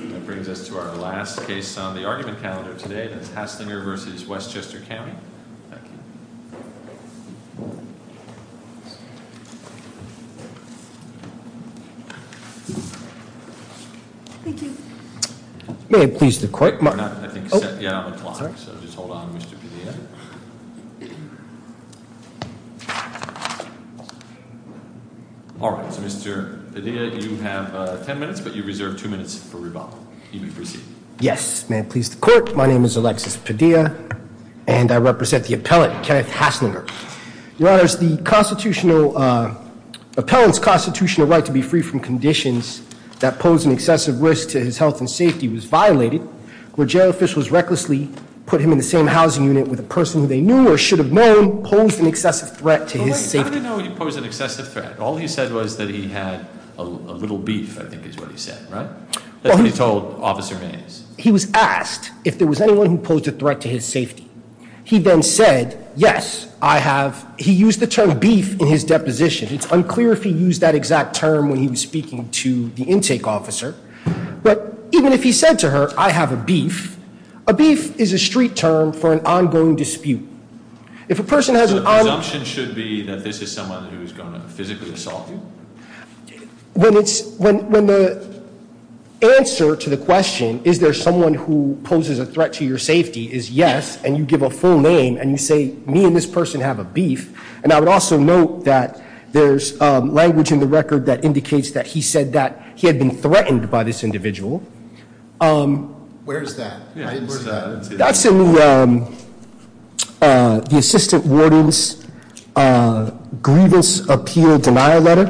That brings us to our last case on the argument calendar today. That's Haslinger v. Westchester County. Thank you. Thank you. May I please the court? Yeah, I'm a clock. So just hold on, Mr. Padilla. All right. So, Mr. Padilla, you have ten minutes, but you reserve two minutes for rebuttal. You may proceed. Yes. May it please the court. My name is Alexis Padilla, and I represent the appellant, Kenneth Haslinger. Your honors, the constitutional, appellant's constitutional right to be free from conditions that pose an excessive risk to his health and safety was violated. When jail officials recklessly put him in the same housing unit with a person who they knew or should have known posed an excessive threat to his safety. I didn't know he posed an excessive threat. All he said was that he had a little beef, I think is what he said, right? That's what he told Officer Hayes. He was asked if there was anyone who posed a threat to his safety. He then said, yes, I have. He used the term beef in his deposition. It's unclear if he used that exact term when he was speaking to the intake officer. But even if he said to her, I have a beef, a beef is a street term for an ongoing dispute. If a person has an option should be that this is someone who is going to physically assault you. When it's when when the answer to the question, is there someone who poses a threat to your safety is yes. And you give a full name and you say, me and this person have a beef. And I would also note that there's language in the record that indicates that he said that he had been threatened by this individual. Where's that? That's in the assistant warden's grievance appeal denial letter.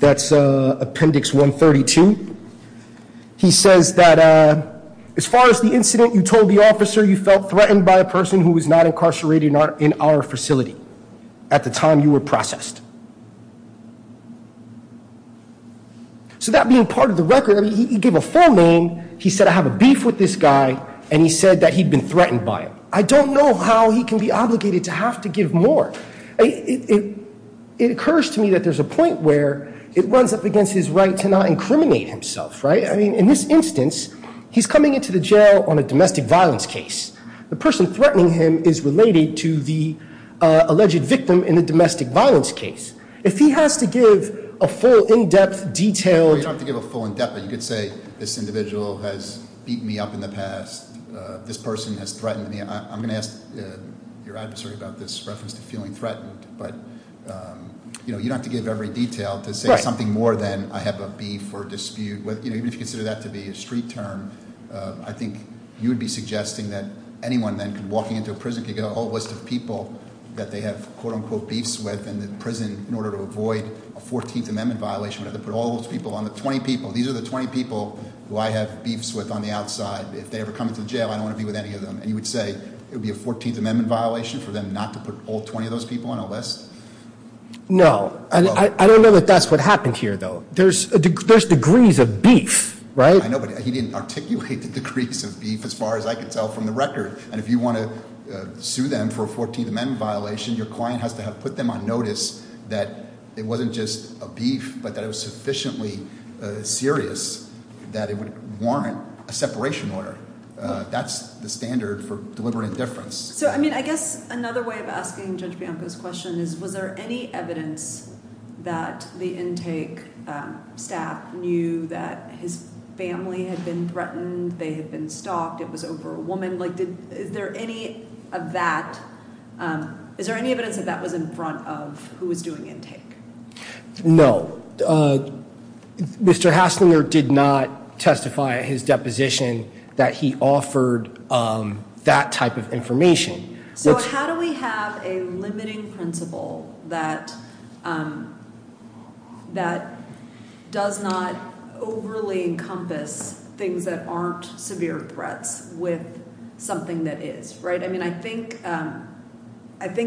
That's appendix 132. He says that as far as the incident, you told the officer you felt threatened by a person who was not incarcerated in our facility at the time you were processed. So that being part of the record, he gave a full name. He said, I have a beef with this guy. And he said that he'd been threatened by him. I don't know how he can be obligated to have to give more. It occurs to me that there's a point where it runs up against his right to not incriminate himself, right? I mean, in this instance, he's coming into the jail on a domestic violence case. The person threatening him is related to the alleged victim in the domestic violence case. If he has to give a full in-depth detailed- You don't have to give a full in-depth, but you could say this individual has beat me up in the past. This person has threatened me. I'm going to ask your adversary about this reference to feeling threatened. But you don't have to give every detail to say something more than I have a beef or dispute. Even if you consider that to be a street term, I think you would be suggesting that anyone then walking into a prison could get a whole list of people that they have, quote unquote, beefs with. And the prison, in order to avoid a 14th Amendment violation, would have to put all those people on the 20 people. Who I have beefs with on the outside. If they ever come into the jail, I don't want to be with any of them. And you would say it would be a 14th Amendment violation for them not to put all 20 of those people on a list? No. I don't know that that's what happened here, though. There's degrees of beef, right? I know, but he didn't articulate the degrees of beef as far as I could tell from the record. And if you want to sue them for a 14th Amendment violation, your client has to have put them on notice that it wasn't just a beef, but that it was sufficiently serious that it would warrant a separation order. That's the standard for delivering indifference. So, I mean, I guess another way of asking Judge Bianco's question is, was there any evidence that the intake staff knew that his family had been threatened? They had been stalked. It was over a woman. Like, is there any of that? Is there any evidence that that was in front of who was doing intake? No. Mr. Hasslinger did not testify at his deposition that he offered that type of information. So how do we have a limiting principle that does not overly encompass things that aren't severe threats with something that is? I mean, I think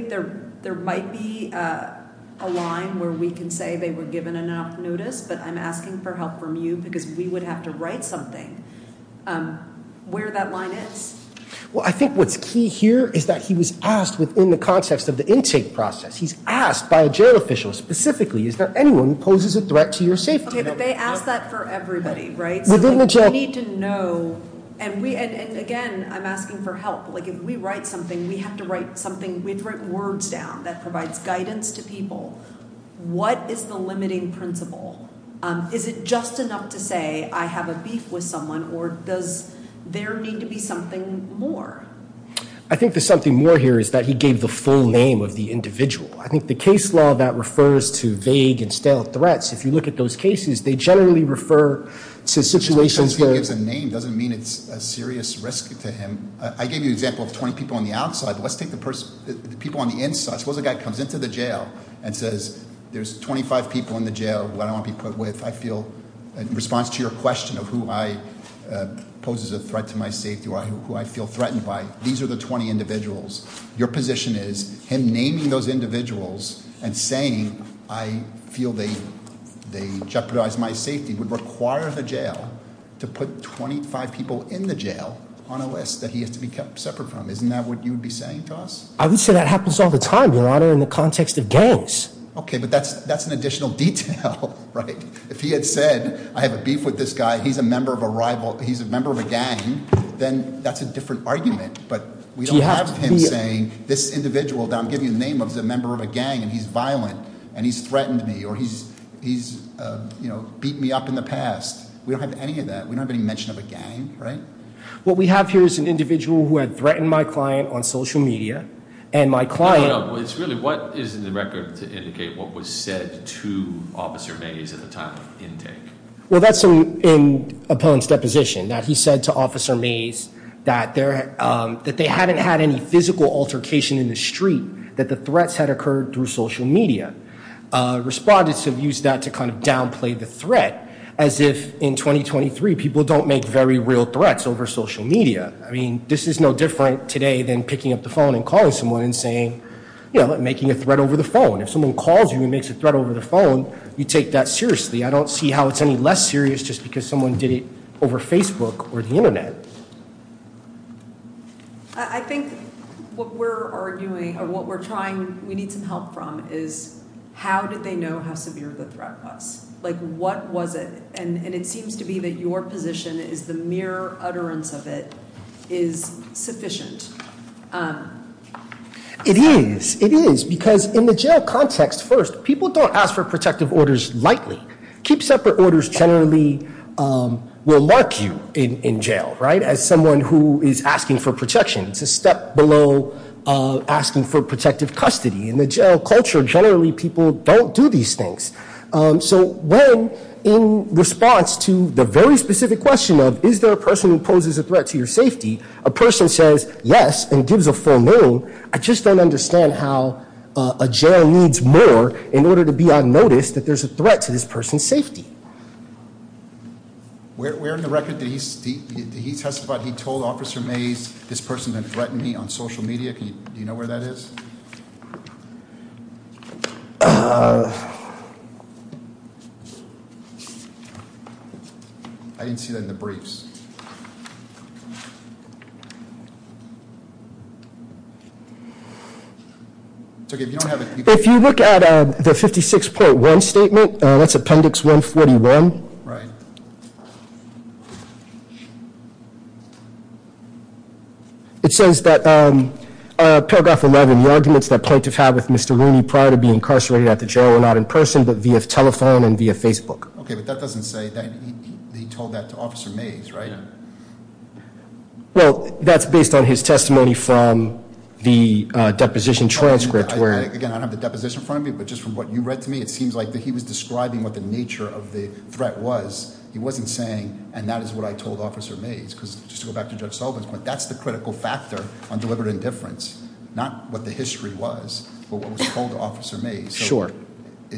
there might be a line where we can say they were given enough notice, but I'm asking for help from you because we would have to write something where that line is. Well, I think what's key here is that he was asked within the context of the intake process. He's asked by a jail official specifically, is there anyone who poses a threat to your safety? Okay, but they ask that for everybody, right? Within the jail. And, again, I'm asking for help. Like, if we write something, we have to write words down that provides guidance to people. What is the limiting principle? Is it just enough to say, I have a beef with someone, or does there need to be something more? I think the something more here is that he gave the full name of the individual. I think the case law that refers to vague and stale threats, if you look at those cases, they generally refer to situations where- Just because he gives a name doesn't mean it's a serious risk to him. I gave you an example of 20 people on the outside, but let's take the people on the inside. Suppose a guy comes into the jail and says, there's 25 people in the jail who I don't want to be put with. I feel, in response to your question of who poses a threat to my safety or who I feel threatened by, these are the 20 individuals. Your position is him naming those individuals and saying I feel they jeopardize my safety would require the jail to put 25 people in the jail on a list that he has to be kept separate from. Isn't that what you'd be saying, Joss? I would say that happens all the time, your honor, in the context of gangs. Okay, but that's an additional detail, right? If he had said, I have a beef with this guy, he's a member of a rival, he's a member of a gang, then that's a different argument. But we don't have him saying, this individual that I'm giving the name of is a member of a gang and he's violent. And he's threatened me, or he's beat me up in the past. We don't have any of that. We don't have any mention of a gang, right? What we have here is an individual who had threatened my client on social media. And my client- No, no. It's really, what is in the record to indicate what was said to Officer Mays at the time of intake? Well, that's in Opponent's deposition, that he said to Officer Mays that they hadn't had any physical altercation in the street, that the threats had occurred through social media. Respondents have used that to kind of downplay the threat, as if in 2023 people don't make very real threats over social media. I mean, this is no different today than picking up the phone and calling someone and saying, you know, making a threat over the phone. If someone calls you and makes a threat over the phone, you take that seriously. I don't see how it's any less serious just because someone did it over Facebook or the Internet. I think what we're arguing, or what we're trying, we need some help from, is how did they know how severe the threat was? Like, what was it? And it seems to be that your position is the mere utterance of it is sufficient. It is. It is. Because in the jail context, first, people don't ask for protective orders lightly. Keep separate orders generally will mark you in jail, right, as someone who is asking for protection. It's a step below asking for protective custody. In the jail culture, generally people don't do these things. So when, in response to the very specific question of is there a person who poses a threat to your safety, a person says yes and gives a full name. I just don't understand how a jail needs more in order to be on notice that there's a threat to this person's safety. Where in the record did he testify that he told Officer Mays this person had threatened me on social media? Do you know where that is? I didn't see that in the briefs. If you look at the 56.1 statement, that's appendix 141. Right. It says that paragraph 11, the arguments that plaintiff had with Mr. Rooney prior to being incarcerated at the jail were not in person but via telephone and via Facebook. Okay, but that doesn't say that he told that to Officer Mays, right? Yeah. Well, that's based on his testimony from the deposition transcript where- And that is what I told Officer Mays. Just to go back to Judge Sullivan's point, that's the critical factor on deliberate indifference. Not what the history was, but what was told to Officer Mays. Sure. Are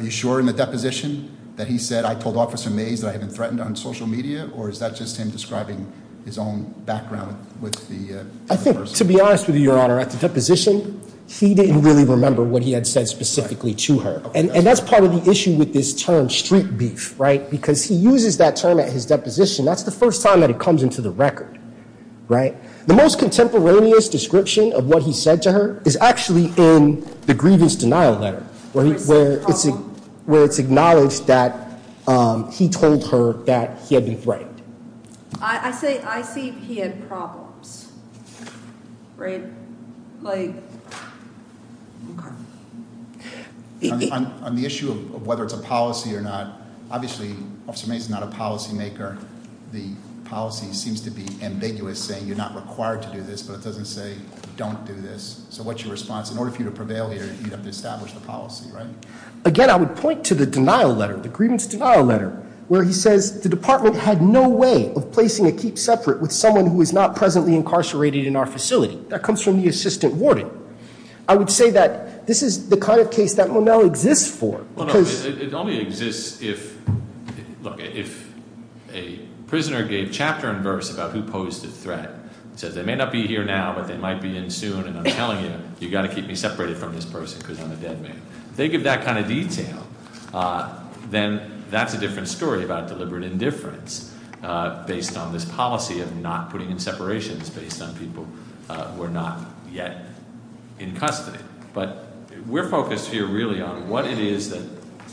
you sure in the deposition that he said, I told Officer Mays that I had been threatened on social media? Or is that just him describing his own background with the person? I think, to be honest with you, Your Honor, at the deposition, he didn't really remember what he had said specifically to her. And that's part of the issue with this term street beef, right? Because he uses that term at his deposition. That's the first time that it comes into the record, right? The most contemporaneous description of what he said to her is actually in the grievance denial letter. Where it's acknowledged that he told her that he had been threatened. I see he had problems, right? Okay. On the issue of whether it's a policy or not, obviously Officer Mays is not a policy maker. The policy seems to be ambiguous, saying you're not required to do this, but it doesn't say don't do this. So what's your response? In order for you to prevail here, you'd have to establish the policy, right? Again, I would point to the denial letter, the grievance denial letter. Where he says the department had no way of placing a keep separate with someone who is not presently incarcerated in our facility. That comes from the assistant warden. I would say that this is the kind of case that Monell exists for. It only exists if, look, if a prisoner gave chapter and verse about who posed a threat. Says they may not be here now, but they might be in soon. And I'm telling you, you've got to keep me separated from this person because I'm a dead man. If they give that kind of detail, then that's a different story about deliberate indifference. Based on this policy of not putting in separations based on people who are not yet in custody. But we're focused here really on what it is that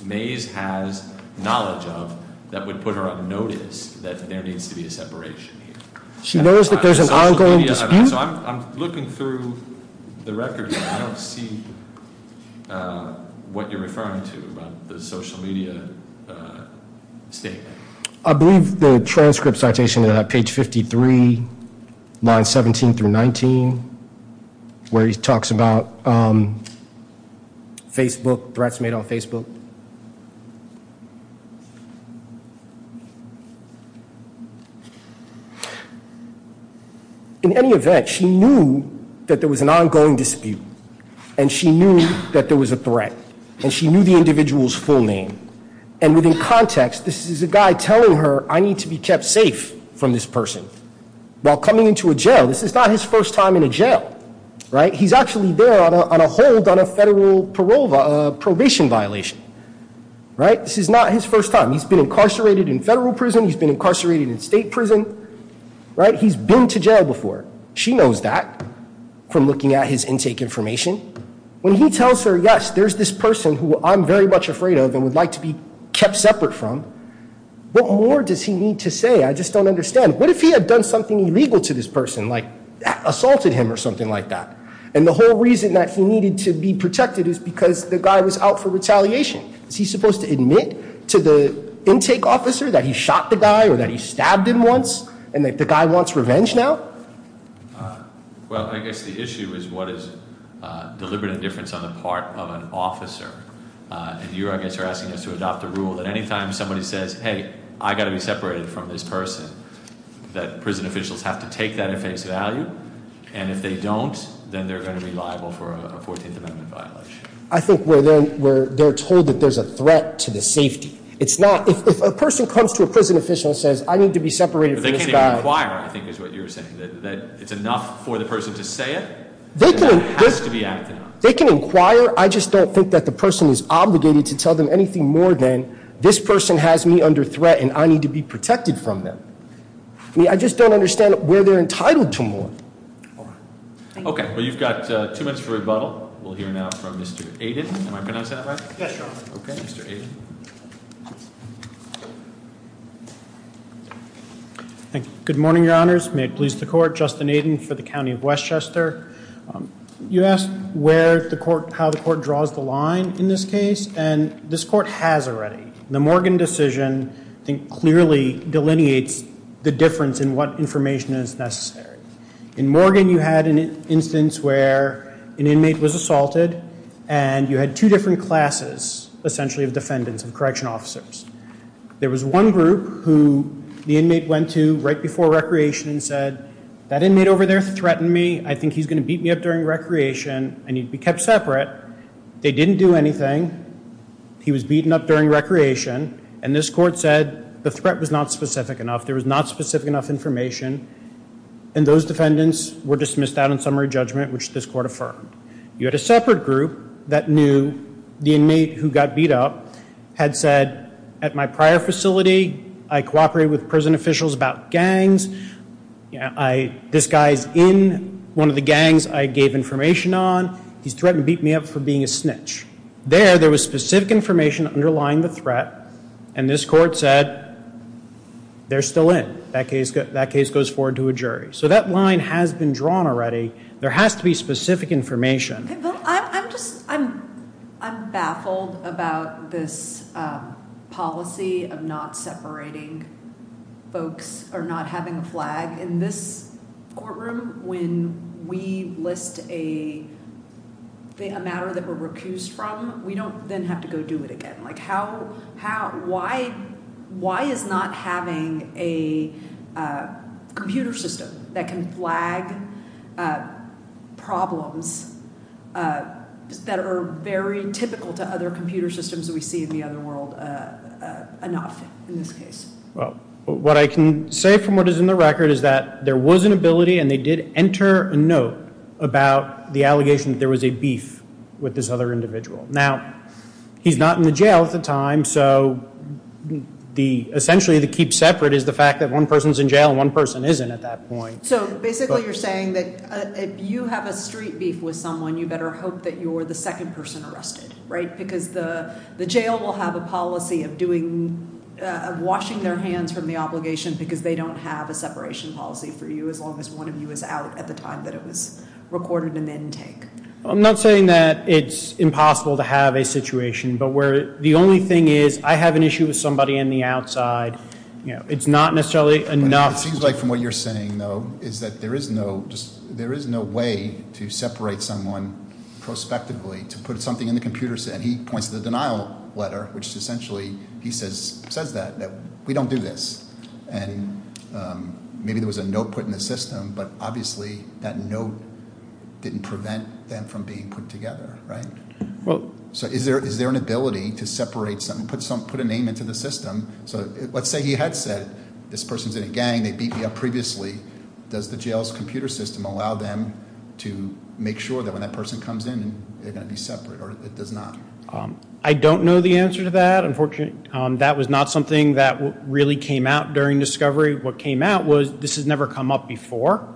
Mays has knowledge of that would put her on notice that there needs to be a separation here. She knows that there's an ongoing dispute? So I'm looking through the records and I don't see what you're referring to about the social media statement. I believe the transcript citation at page 53, line 17 through 19, where he talks about Facebook, threats made on Facebook. In any event, she knew that there was an ongoing dispute. And she knew that there was a threat. And she knew the individual's full name. And within context, this is a guy telling her, I need to be kept safe from this person. While coming into a jail. This is not his first time in a jail. He's actually there on a hold on a federal probation violation. This is not his first time. He's been incarcerated in federal prison. He's been incarcerated in state prison. He's been to jail before. She knows that from looking at his intake information. When he tells her, yes, there's this person who I'm very much afraid of and would like to be kept separate from. What more does he need to say? I just don't understand. What if he had done something illegal to this person? Like assaulted him or something like that? And the whole reason that he needed to be protected is because the guy was out for retaliation. Is he supposed to admit to the intake officer that he shot the guy or that he stabbed him once? And that the guy wants revenge now? Well, I guess the issue is what is deliberate indifference on the part of an officer. And you, I guess, are asking us to adopt a rule that anytime somebody says, hey, I gotta be separated from this person. That prison officials have to take that at face value. And if they don't, then they're going to be liable for a 14th Amendment violation. I think where they're told that there's a threat to the safety. It's not. If a person comes to a prison official and says, I need to be separated from this guy. But they can't even inquire, I think is what you're saying. That it's enough for the person to say it? They can inquire. I just don't think that the person is obligated to tell them anything more than this person has me under threat and I need to be protected from them. I mean, I just don't understand where they're entitled to more. Well, you've got two minutes for rebuttal. We'll hear now from Mr. Aiden. Am I pronouncing that right? Yes, your honor. Okay, Mr. Aiden. Good morning, your honors. May it please the court. Justin Aiden for the County of Westchester. You asked how the court draws the line in this case. And this court has already. The Morgan decision, I think, clearly delineates the difference in what information is necessary. In Morgan, you had an instance where an inmate was assaulted. And you had two different classes, essentially, of defendants and correction officers. There was one group who the inmate went to right before recreation and said, That inmate over there threatened me. I think he's going to beat me up during recreation. I need to be kept separate. They didn't do anything. He was beaten up during recreation. And this court said the threat was not specific enough. There was not specific enough information. And those defendants were dismissed out on summary judgment, which this court affirmed. You had a separate group that knew the inmate who got beat up had said, At my prior facility, I cooperated with prison officials about gangs. This guy's in one of the gangs I gave information on. He's threatened to beat me up for being a snitch. There, there was specific information underlying the threat. And this court said, They're still in. That case goes forward to a jury. So that line has been drawn already. There has to be specific information. I'm baffled about this policy of not separating folks or not having a flag. In this courtroom, when we list a matter that we're recused from, We don't then have to go do it again. Why is not having a computer system that can flag problems that are very typical to other computer systems that we see in the other world enough in this case? What I can say from what is in the record is that there was an ability, And they did enter a note about the allegation that there was a beef with this other individual. Now, he's not in the jail at the time. So, essentially, the keep separate is the fact that one person's in jail and one person isn't at that point. So, basically, you're saying that if you have a street beef with someone, You better hope that you're the second person arrested, right? Because the jail will have a policy of washing their hands from the obligation Because they don't have a separation policy for you As long as one of you is out at the time that it was recorded in the intake. I'm not saying that it's impossible to have a situation, But where the only thing is, I have an issue with somebody in the outside. It's not necessarily enough. It seems like from what you're saying, though, Is that there is no way to separate someone prospectively To put something in the computer, and he points to the denial letter, Which essentially, he says that we don't do this. And maybe there was a note put in the system, But obviously, that note didn't prevent them from being put together, right? So, is there an ability to separate something, put a name into the system? So, let's say he had said, this person's in a gang, they beat me up previously. Does the jail's computer system allow them to make sure that when that person comes in, They're going to be separate, or it does not? I don't know the answer to that, unfortunately. That was not something that really came out during discovery. What came out was, this has never come up before.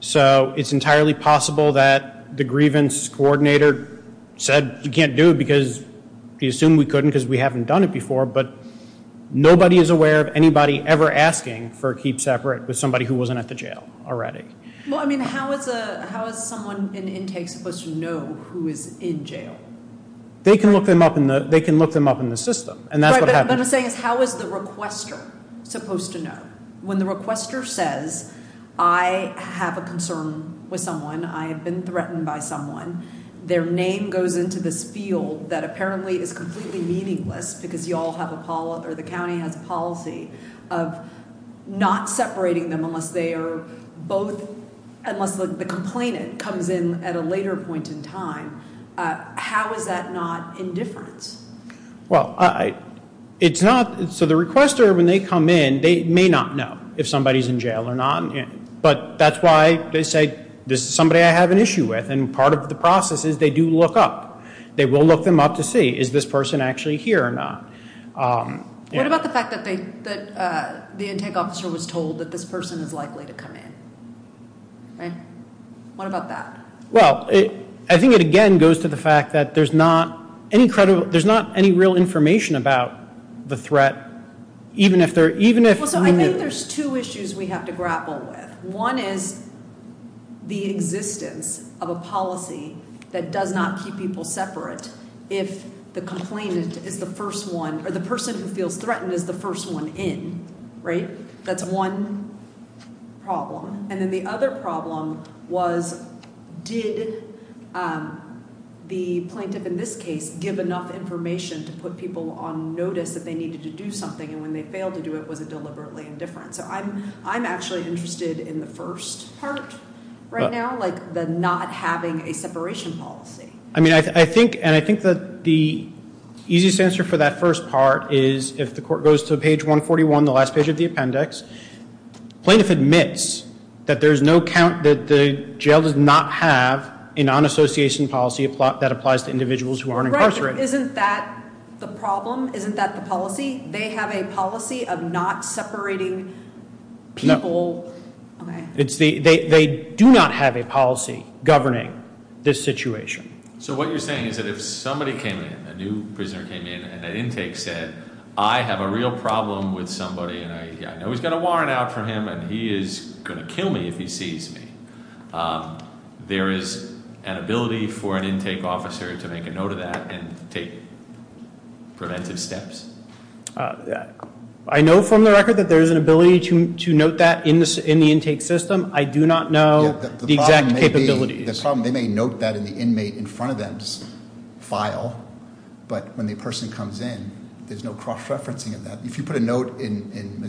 So, it's entirely possible that the grievance coordinator said, You can't do it because, he assumed we couldn't because we haven't done it before, But nobody is aware of anybody ever asking for a keep separate With somebody who wasn't at the jail already. Well, I mean, how is someone in intake supposed to know who is in jail? They can look them up in the system, and that's what happens. What I'm saying is, how is the requester supposed to know? When the requester says, I have a concern with someone, I have been threatened by someone, Their name goes into this field that apparently is completely meaningless, Because you all have a policy, or the county has a policy, Of not separating them unless they are both, Unless the complainant comes in at a later point in time. How is that not indifference? Well, it's not, so the requester, when they come in, They may not know if somebody is in jail or not, But that's why they say, this is somebody I have an issue with, And part of the process is, they do look up. They will look them up to see, is this person actually here or not? What about the fact that the intake officer was told that this person is likely to come in? What about that? Well, I think it again goes to the fact that there's not any real information about the threat, Even if- Well, so I think there's two issues we have to grapple with. One is the existence of a policy that does not keep people separate If the complainant is the first one, Or the person who feels threatened is the first one in, right? That's one problem. And then the other problem was, Did the plaintiff in this case give enough information To put people on notice that they needed to do something, And when they failed to do it, was it deliberately indifferent? So I'm actually interested in the first part right now, Like the not having a separation policy. I mean, I think that the easiest answer for that first part is, If the court goes to page 141, the last page of the appendix, Plaintiff admits that there's no count, That the jail does not have a non-association policy That applies to individuals who are incarcerated. Isn't that the problem? Isn't that the policy? They have a policy of not separating people? No. They do not have a policy governing this situation. So what you're saying is that if somebody came in, A new prisoner came in, and at intake said, I have a real problem with somebody, And I know he's got a warrant out for him, And he is going to kill me if he sees me. There is an ability for an intake officer to make a note of that And take preventive steps? I know from the record that there is an ability to note that in the intake system. I do not know the exact capabilities. The problem may be they may note that in the inmate in front of them's file, But when the person comes in, there's no cross-referencing of that. If you put a note in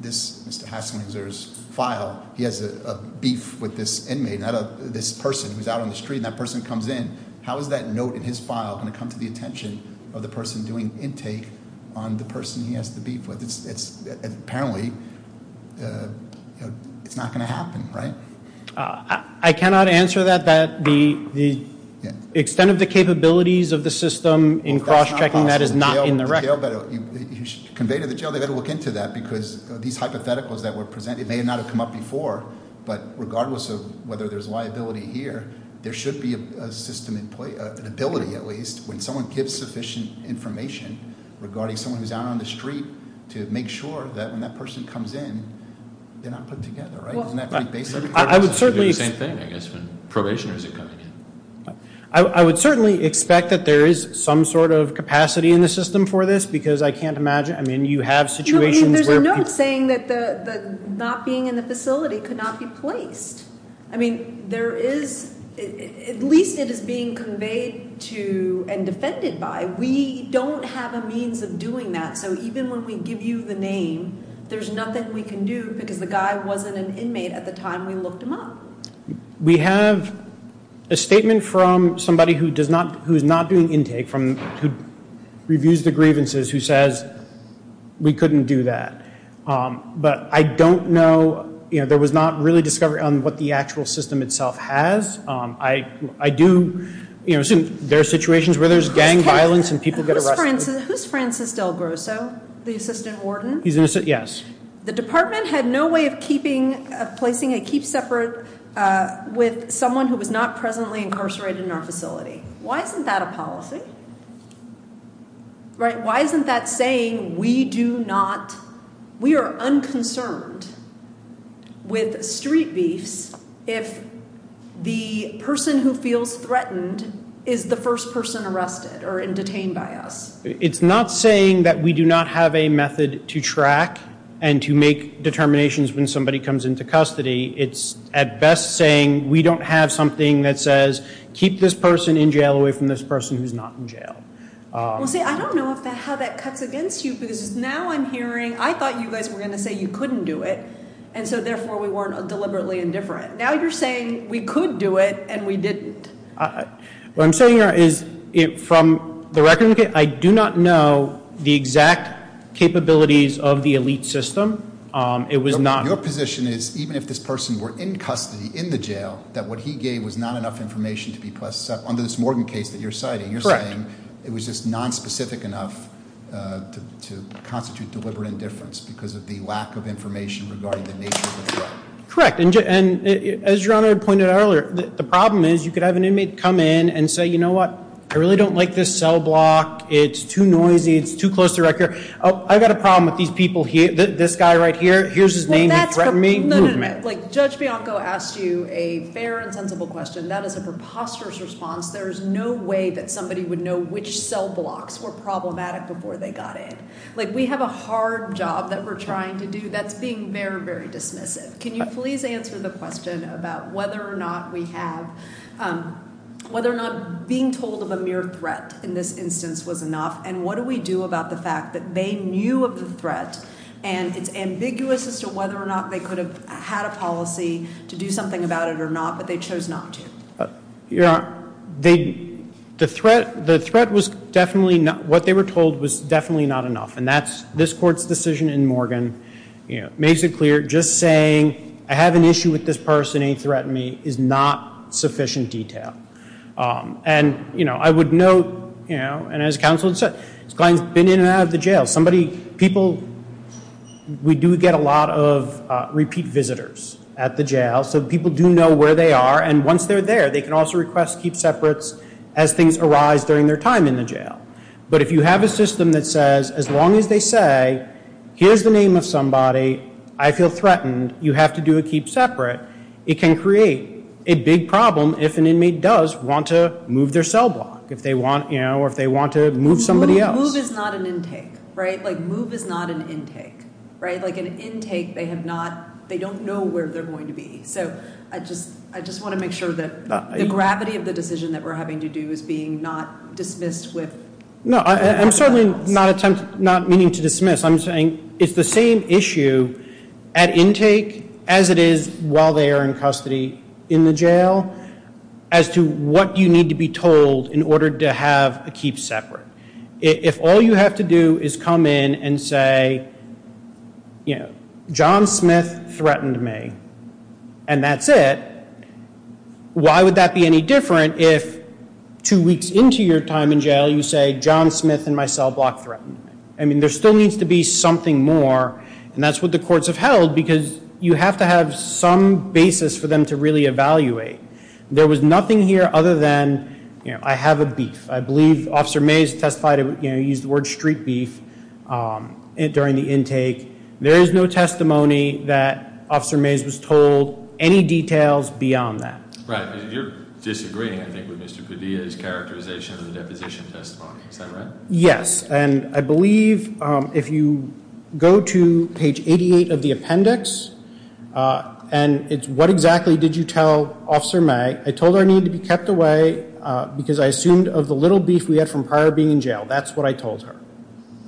this Mr. Hasslinger's file, He has a beef with this inmate, this person who's out on the street, And that person comes in, how is that note in his file going to come to the attention Of the person doing intake on the person he has the beef with? Apparently, it's not going to happen, right? I cannot answer that. The extent of the capabilities of the system in cross-checking that is not in the record. Conveyed to the jail, they've got to look into that, Because these hypotheticals that were presented may not have come up before, But regardless of whether there's liability here, There should be a system in place, an ability at least, When someone gives sufficient information regarding someone who's out on the street To make sure that when that person comes in, they're not put together, right? I would certainly... I would certainly expect that there is some sort of capacity in the system for this, Because I can't imagine, I mean, you have situations where... There's a note saying that not being in the facility could not be placed. I mean, there is, at least it is being conveyed to and defended by, We don't have a means of doing that, so even when we give you the name, There's nothing we can do, because the guy wasn't an inmate at the time we looked him up. We have a statement from somebody who's not doing intake, Who reviews the grievances, who says, we couldn't do that. But I don't know, you know, there was not really discovery on what the actual system itself has. I do, you know, there are situations where there's gang violence and people get arrested. Who's Francis Del Grosso, the assistant warden? He's an assistant, yes. The department had no way of placing a keep separate with someone who was not presently incarcerated in our facility. Why isn't that a policy? Right, why isn't that saying we do not... We are unconcerned with street beefs, If the person who feels threatened is the first person arrested or detained by us. It's not saying that we do not have a method to track and to make determinations when somebody comes into custody. It's at best saying we don't have something that says, keep this person in jail away from this person who's not in jail. I don't know how that cuts against you, because now I'm hearing, I thought you guys were going to say you couldn't do it. And so therefore we weren't deliberately indifferent. Now you're saying we could do it and we didn't. What I'm saying here is from the record, I do not know the exact capabilities of the elite system. It was not- Your position is even if this person were in custody in the jail, that what he gave was not enough information to be placed under this Morgan case that you're citing. Correct. You're saying it was just nonspecific enough to constitute deliberate indifference because of the lack of information regarding the nature of the threat. Correct. And as Your Honor pointed out earlier, the problem is you could have an inmate come in and say, you know what? I really don't like this cell block. It's too noisy. It's too close to record. Oh, I've got a problem with these people here. This guy right here. Here's his name. He threatened me. Judge Bianco asked you a fair and sensible question. That is a preposterous response. There is no way that somebody would know which cell blocks were problematic before they got in. We have a hard job that we're trying to do that's being very, very dismissive. Can you please answer the question about whether or not we have, whether or not being told of a mere threat in this instance was enough? And what do we do about the fact that they knew of the threat and it's ambiguous as to whether or not they could have had a policy to do something about it or not, but they chose not to? Your Honor, the threat was definitely not, what they were told was definitely not enough. And this Court's decision in Morgan makes it clear just saying, I have an issue with this person. He threatened me is not sufficient detail. And I would note, and as counsel said, this client's been in and out of the jail. We do get a lot of repeat visitors at the jail, so people do know where they are. And once they're there, they can also request keep separates as things arise during their time in the jail. But if you have a system that says, as long as they say, here's the name of somebody, I feel threatened, you have to do a keep separate, it can create a big problem if an inmate does want to move their cell block or if they want to move somebody else. Move is not an intake, right? Like move is not an intake, right? Like an intake, they have not, they don't know where they're going to be. So I just want to make sure that the gravity of the decision that we're having to do is being not dismissed with- No, I'm certainly not meaning to dismiss. I'm saying it's the same issue at intake as it is while they are in custody in the jail, as to what you need to be told in order to have a keep separate. If all you have to do is come in and say, you know, John Smith threatened me, and that's it, why would that be any different if two weeks into your time in jail you say, John Smith and my cell block threatened me? I mean, there still needs to be something more, and that's what the courts have held, because you have to have some basis for them to really evaluate. There was nothing here other than, you know, I have a beef. I believe Officer Mays testified, you know, he used the word street beef during the intake. There is no testimony that Officer Mays was told any details beyond that. Right, because you're disagreeing, I think, with Mr. Padilla's characterization of the deposition testimony. Is that right? Yes, and I believe if you go to page 88 of the appendix, and it's what exactly did you tell Officer May, I told her I needed to be kept away because I assumed of the little beef we had from prior being in jail. That's what I told her.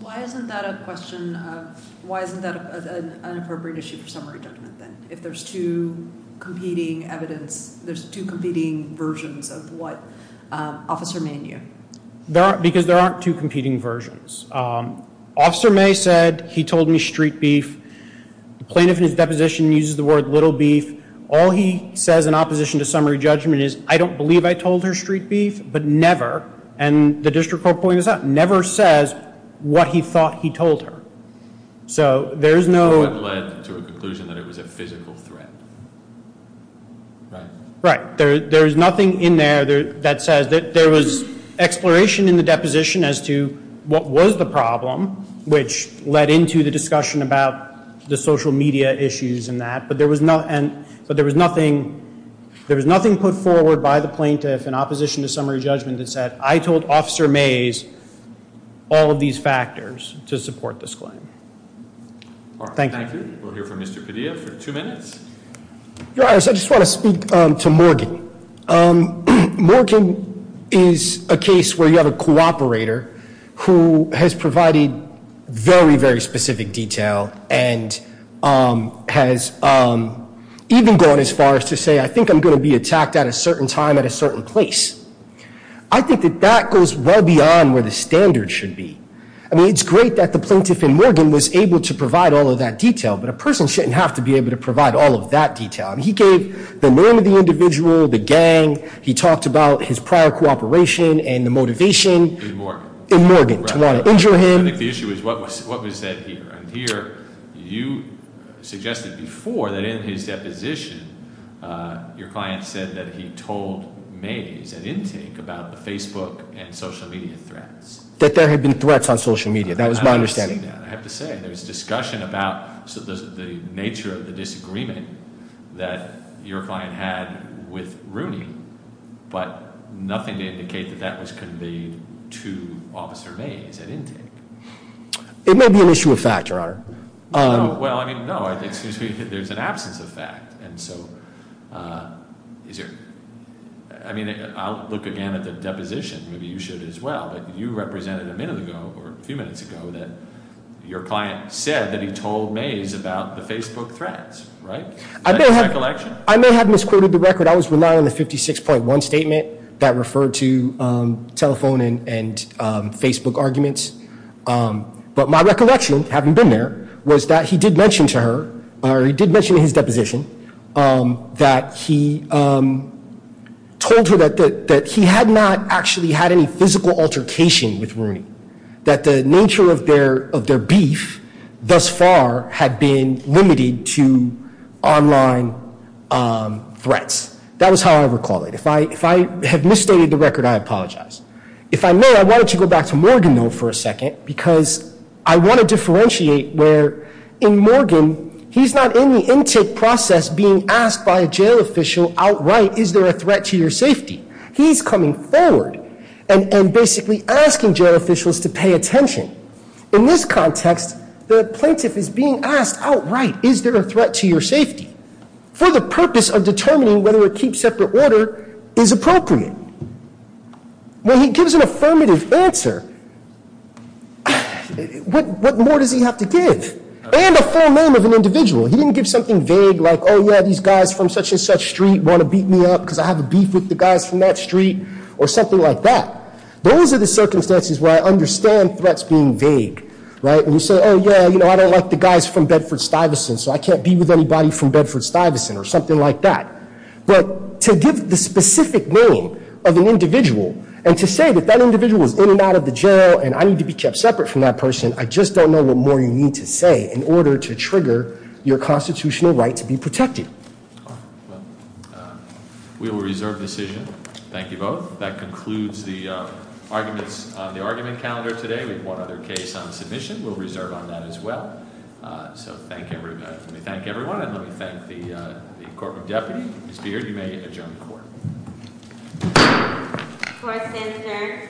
Why isn't that a question of, why isn't that an appropriate issue for summary judgment then, if there's two competing versions of what Officer May knew? Because there aren't two competing versions. Officer Mays said he told me street beef. The plaintiff in his deposition uses the word little beef. All he says in opposition to summary judgment is, I don't believe I told her street beef, but never, and the district court pointed this out, never says what he thought he told her. So there is no- So it led to a conclusion that it was a physical threat. Right. Right. There is nothing in there that says that there was exploration in the deposition as to what was the problem, which led into the discussion about the social media issues and that. But there was nothing put forward by the plaintiff in opposition to summary judgment that said, I told Officer Mays all of these factors to support this claim. Thank you. Thank you. We'll hear from Mr. Padilla for two minutes. Your Honor, I just want to speak to Morgan. Morgan is a case where you have a cooperator who has provided very, very specific detail and has even gone as far as to say, I think I'm going to be attacked at a certain time at a certain place. I think that that goes well beyond where the standard should be. I mean, it's great that the plaintiff in Morgan was able to provide all of that detail, but a person shouldn't have to be able to provide all of that detail. He gave the name of the individual, the gang. He talked about his prior cooperation and the motivation- In Morgan. In Morgan to want to injure him. I think the issue is what was said here. And here, you suggested before that in his deposition, your client said that he told Mays at intake about the Facebook and social media threats. That there had been threats on social media. That was my understanding. There was discussion about the nature of the disagreement that your client had with Rooney, but nothing to indicate that that was conveyed to Officer Mays at intake. It may be an issue of fact, Your Honor. Well, I mean, no. There's an absence of fact. And so, I mean, I'll look again at the deposition. Maybe you should as well. But you represented a minute ago, or a few minutes ago, that your client said that he told Mays about the Facebook threats, right? Is that your recollection? I may have misquoted the record. I was relying on the 56.1 statement that referred to telephone and Facebook arguments. But my recollection, having been there, was that he did mention to her, or he did mention in his deposition, that he told her that he had not actually had any physical altercation with Rooney. That the nature of their beef thus far had been limited to online threats. That was how I recall it. If I have misstated the record, I apologize. If I may, I wanted to go back to Morgan, though, for a second, because I want to differentiate where, in Morgan, he's not in the intake process being asked by a jail official outright, is there a threat to your safety? He's coming forward and basically asking jail officials to pay attention. In this context, the plaintiff is being asked outright, is there a threat to your safety? For the purpose of determining whether a keep separate order is appropriate. When he gives an affirmative answer, what more does he have to give? And a full name of an individual. He didn't give something vague like, oh, yeah, these guys from such and such street want to beat me up because I have a beef with the guys from that street, or something like that. Those are the circumstances where I understand threats being vague. When you say, oh, yeah, I don't like the guys from Bedford-Stuyvesant, so I can't be with anybody from Bedford-Stuyvesant, or something like that. But to give the specific name of an individual, and to say that that individual is in and out of the jail, and I need to be kept separate from that person, I just don't know what more you need to say in order to trigger your constitutional right to be protected. We will reserve the decision. Thank you both. That concludes the arguments on the argument calendar today. We have one other case on submission. We'll reserve on that as well. So let me thank everyone, and let me thank the corporate deputy. Mr. Beard, you may adjourn the court. Court is adjourned. Thank you.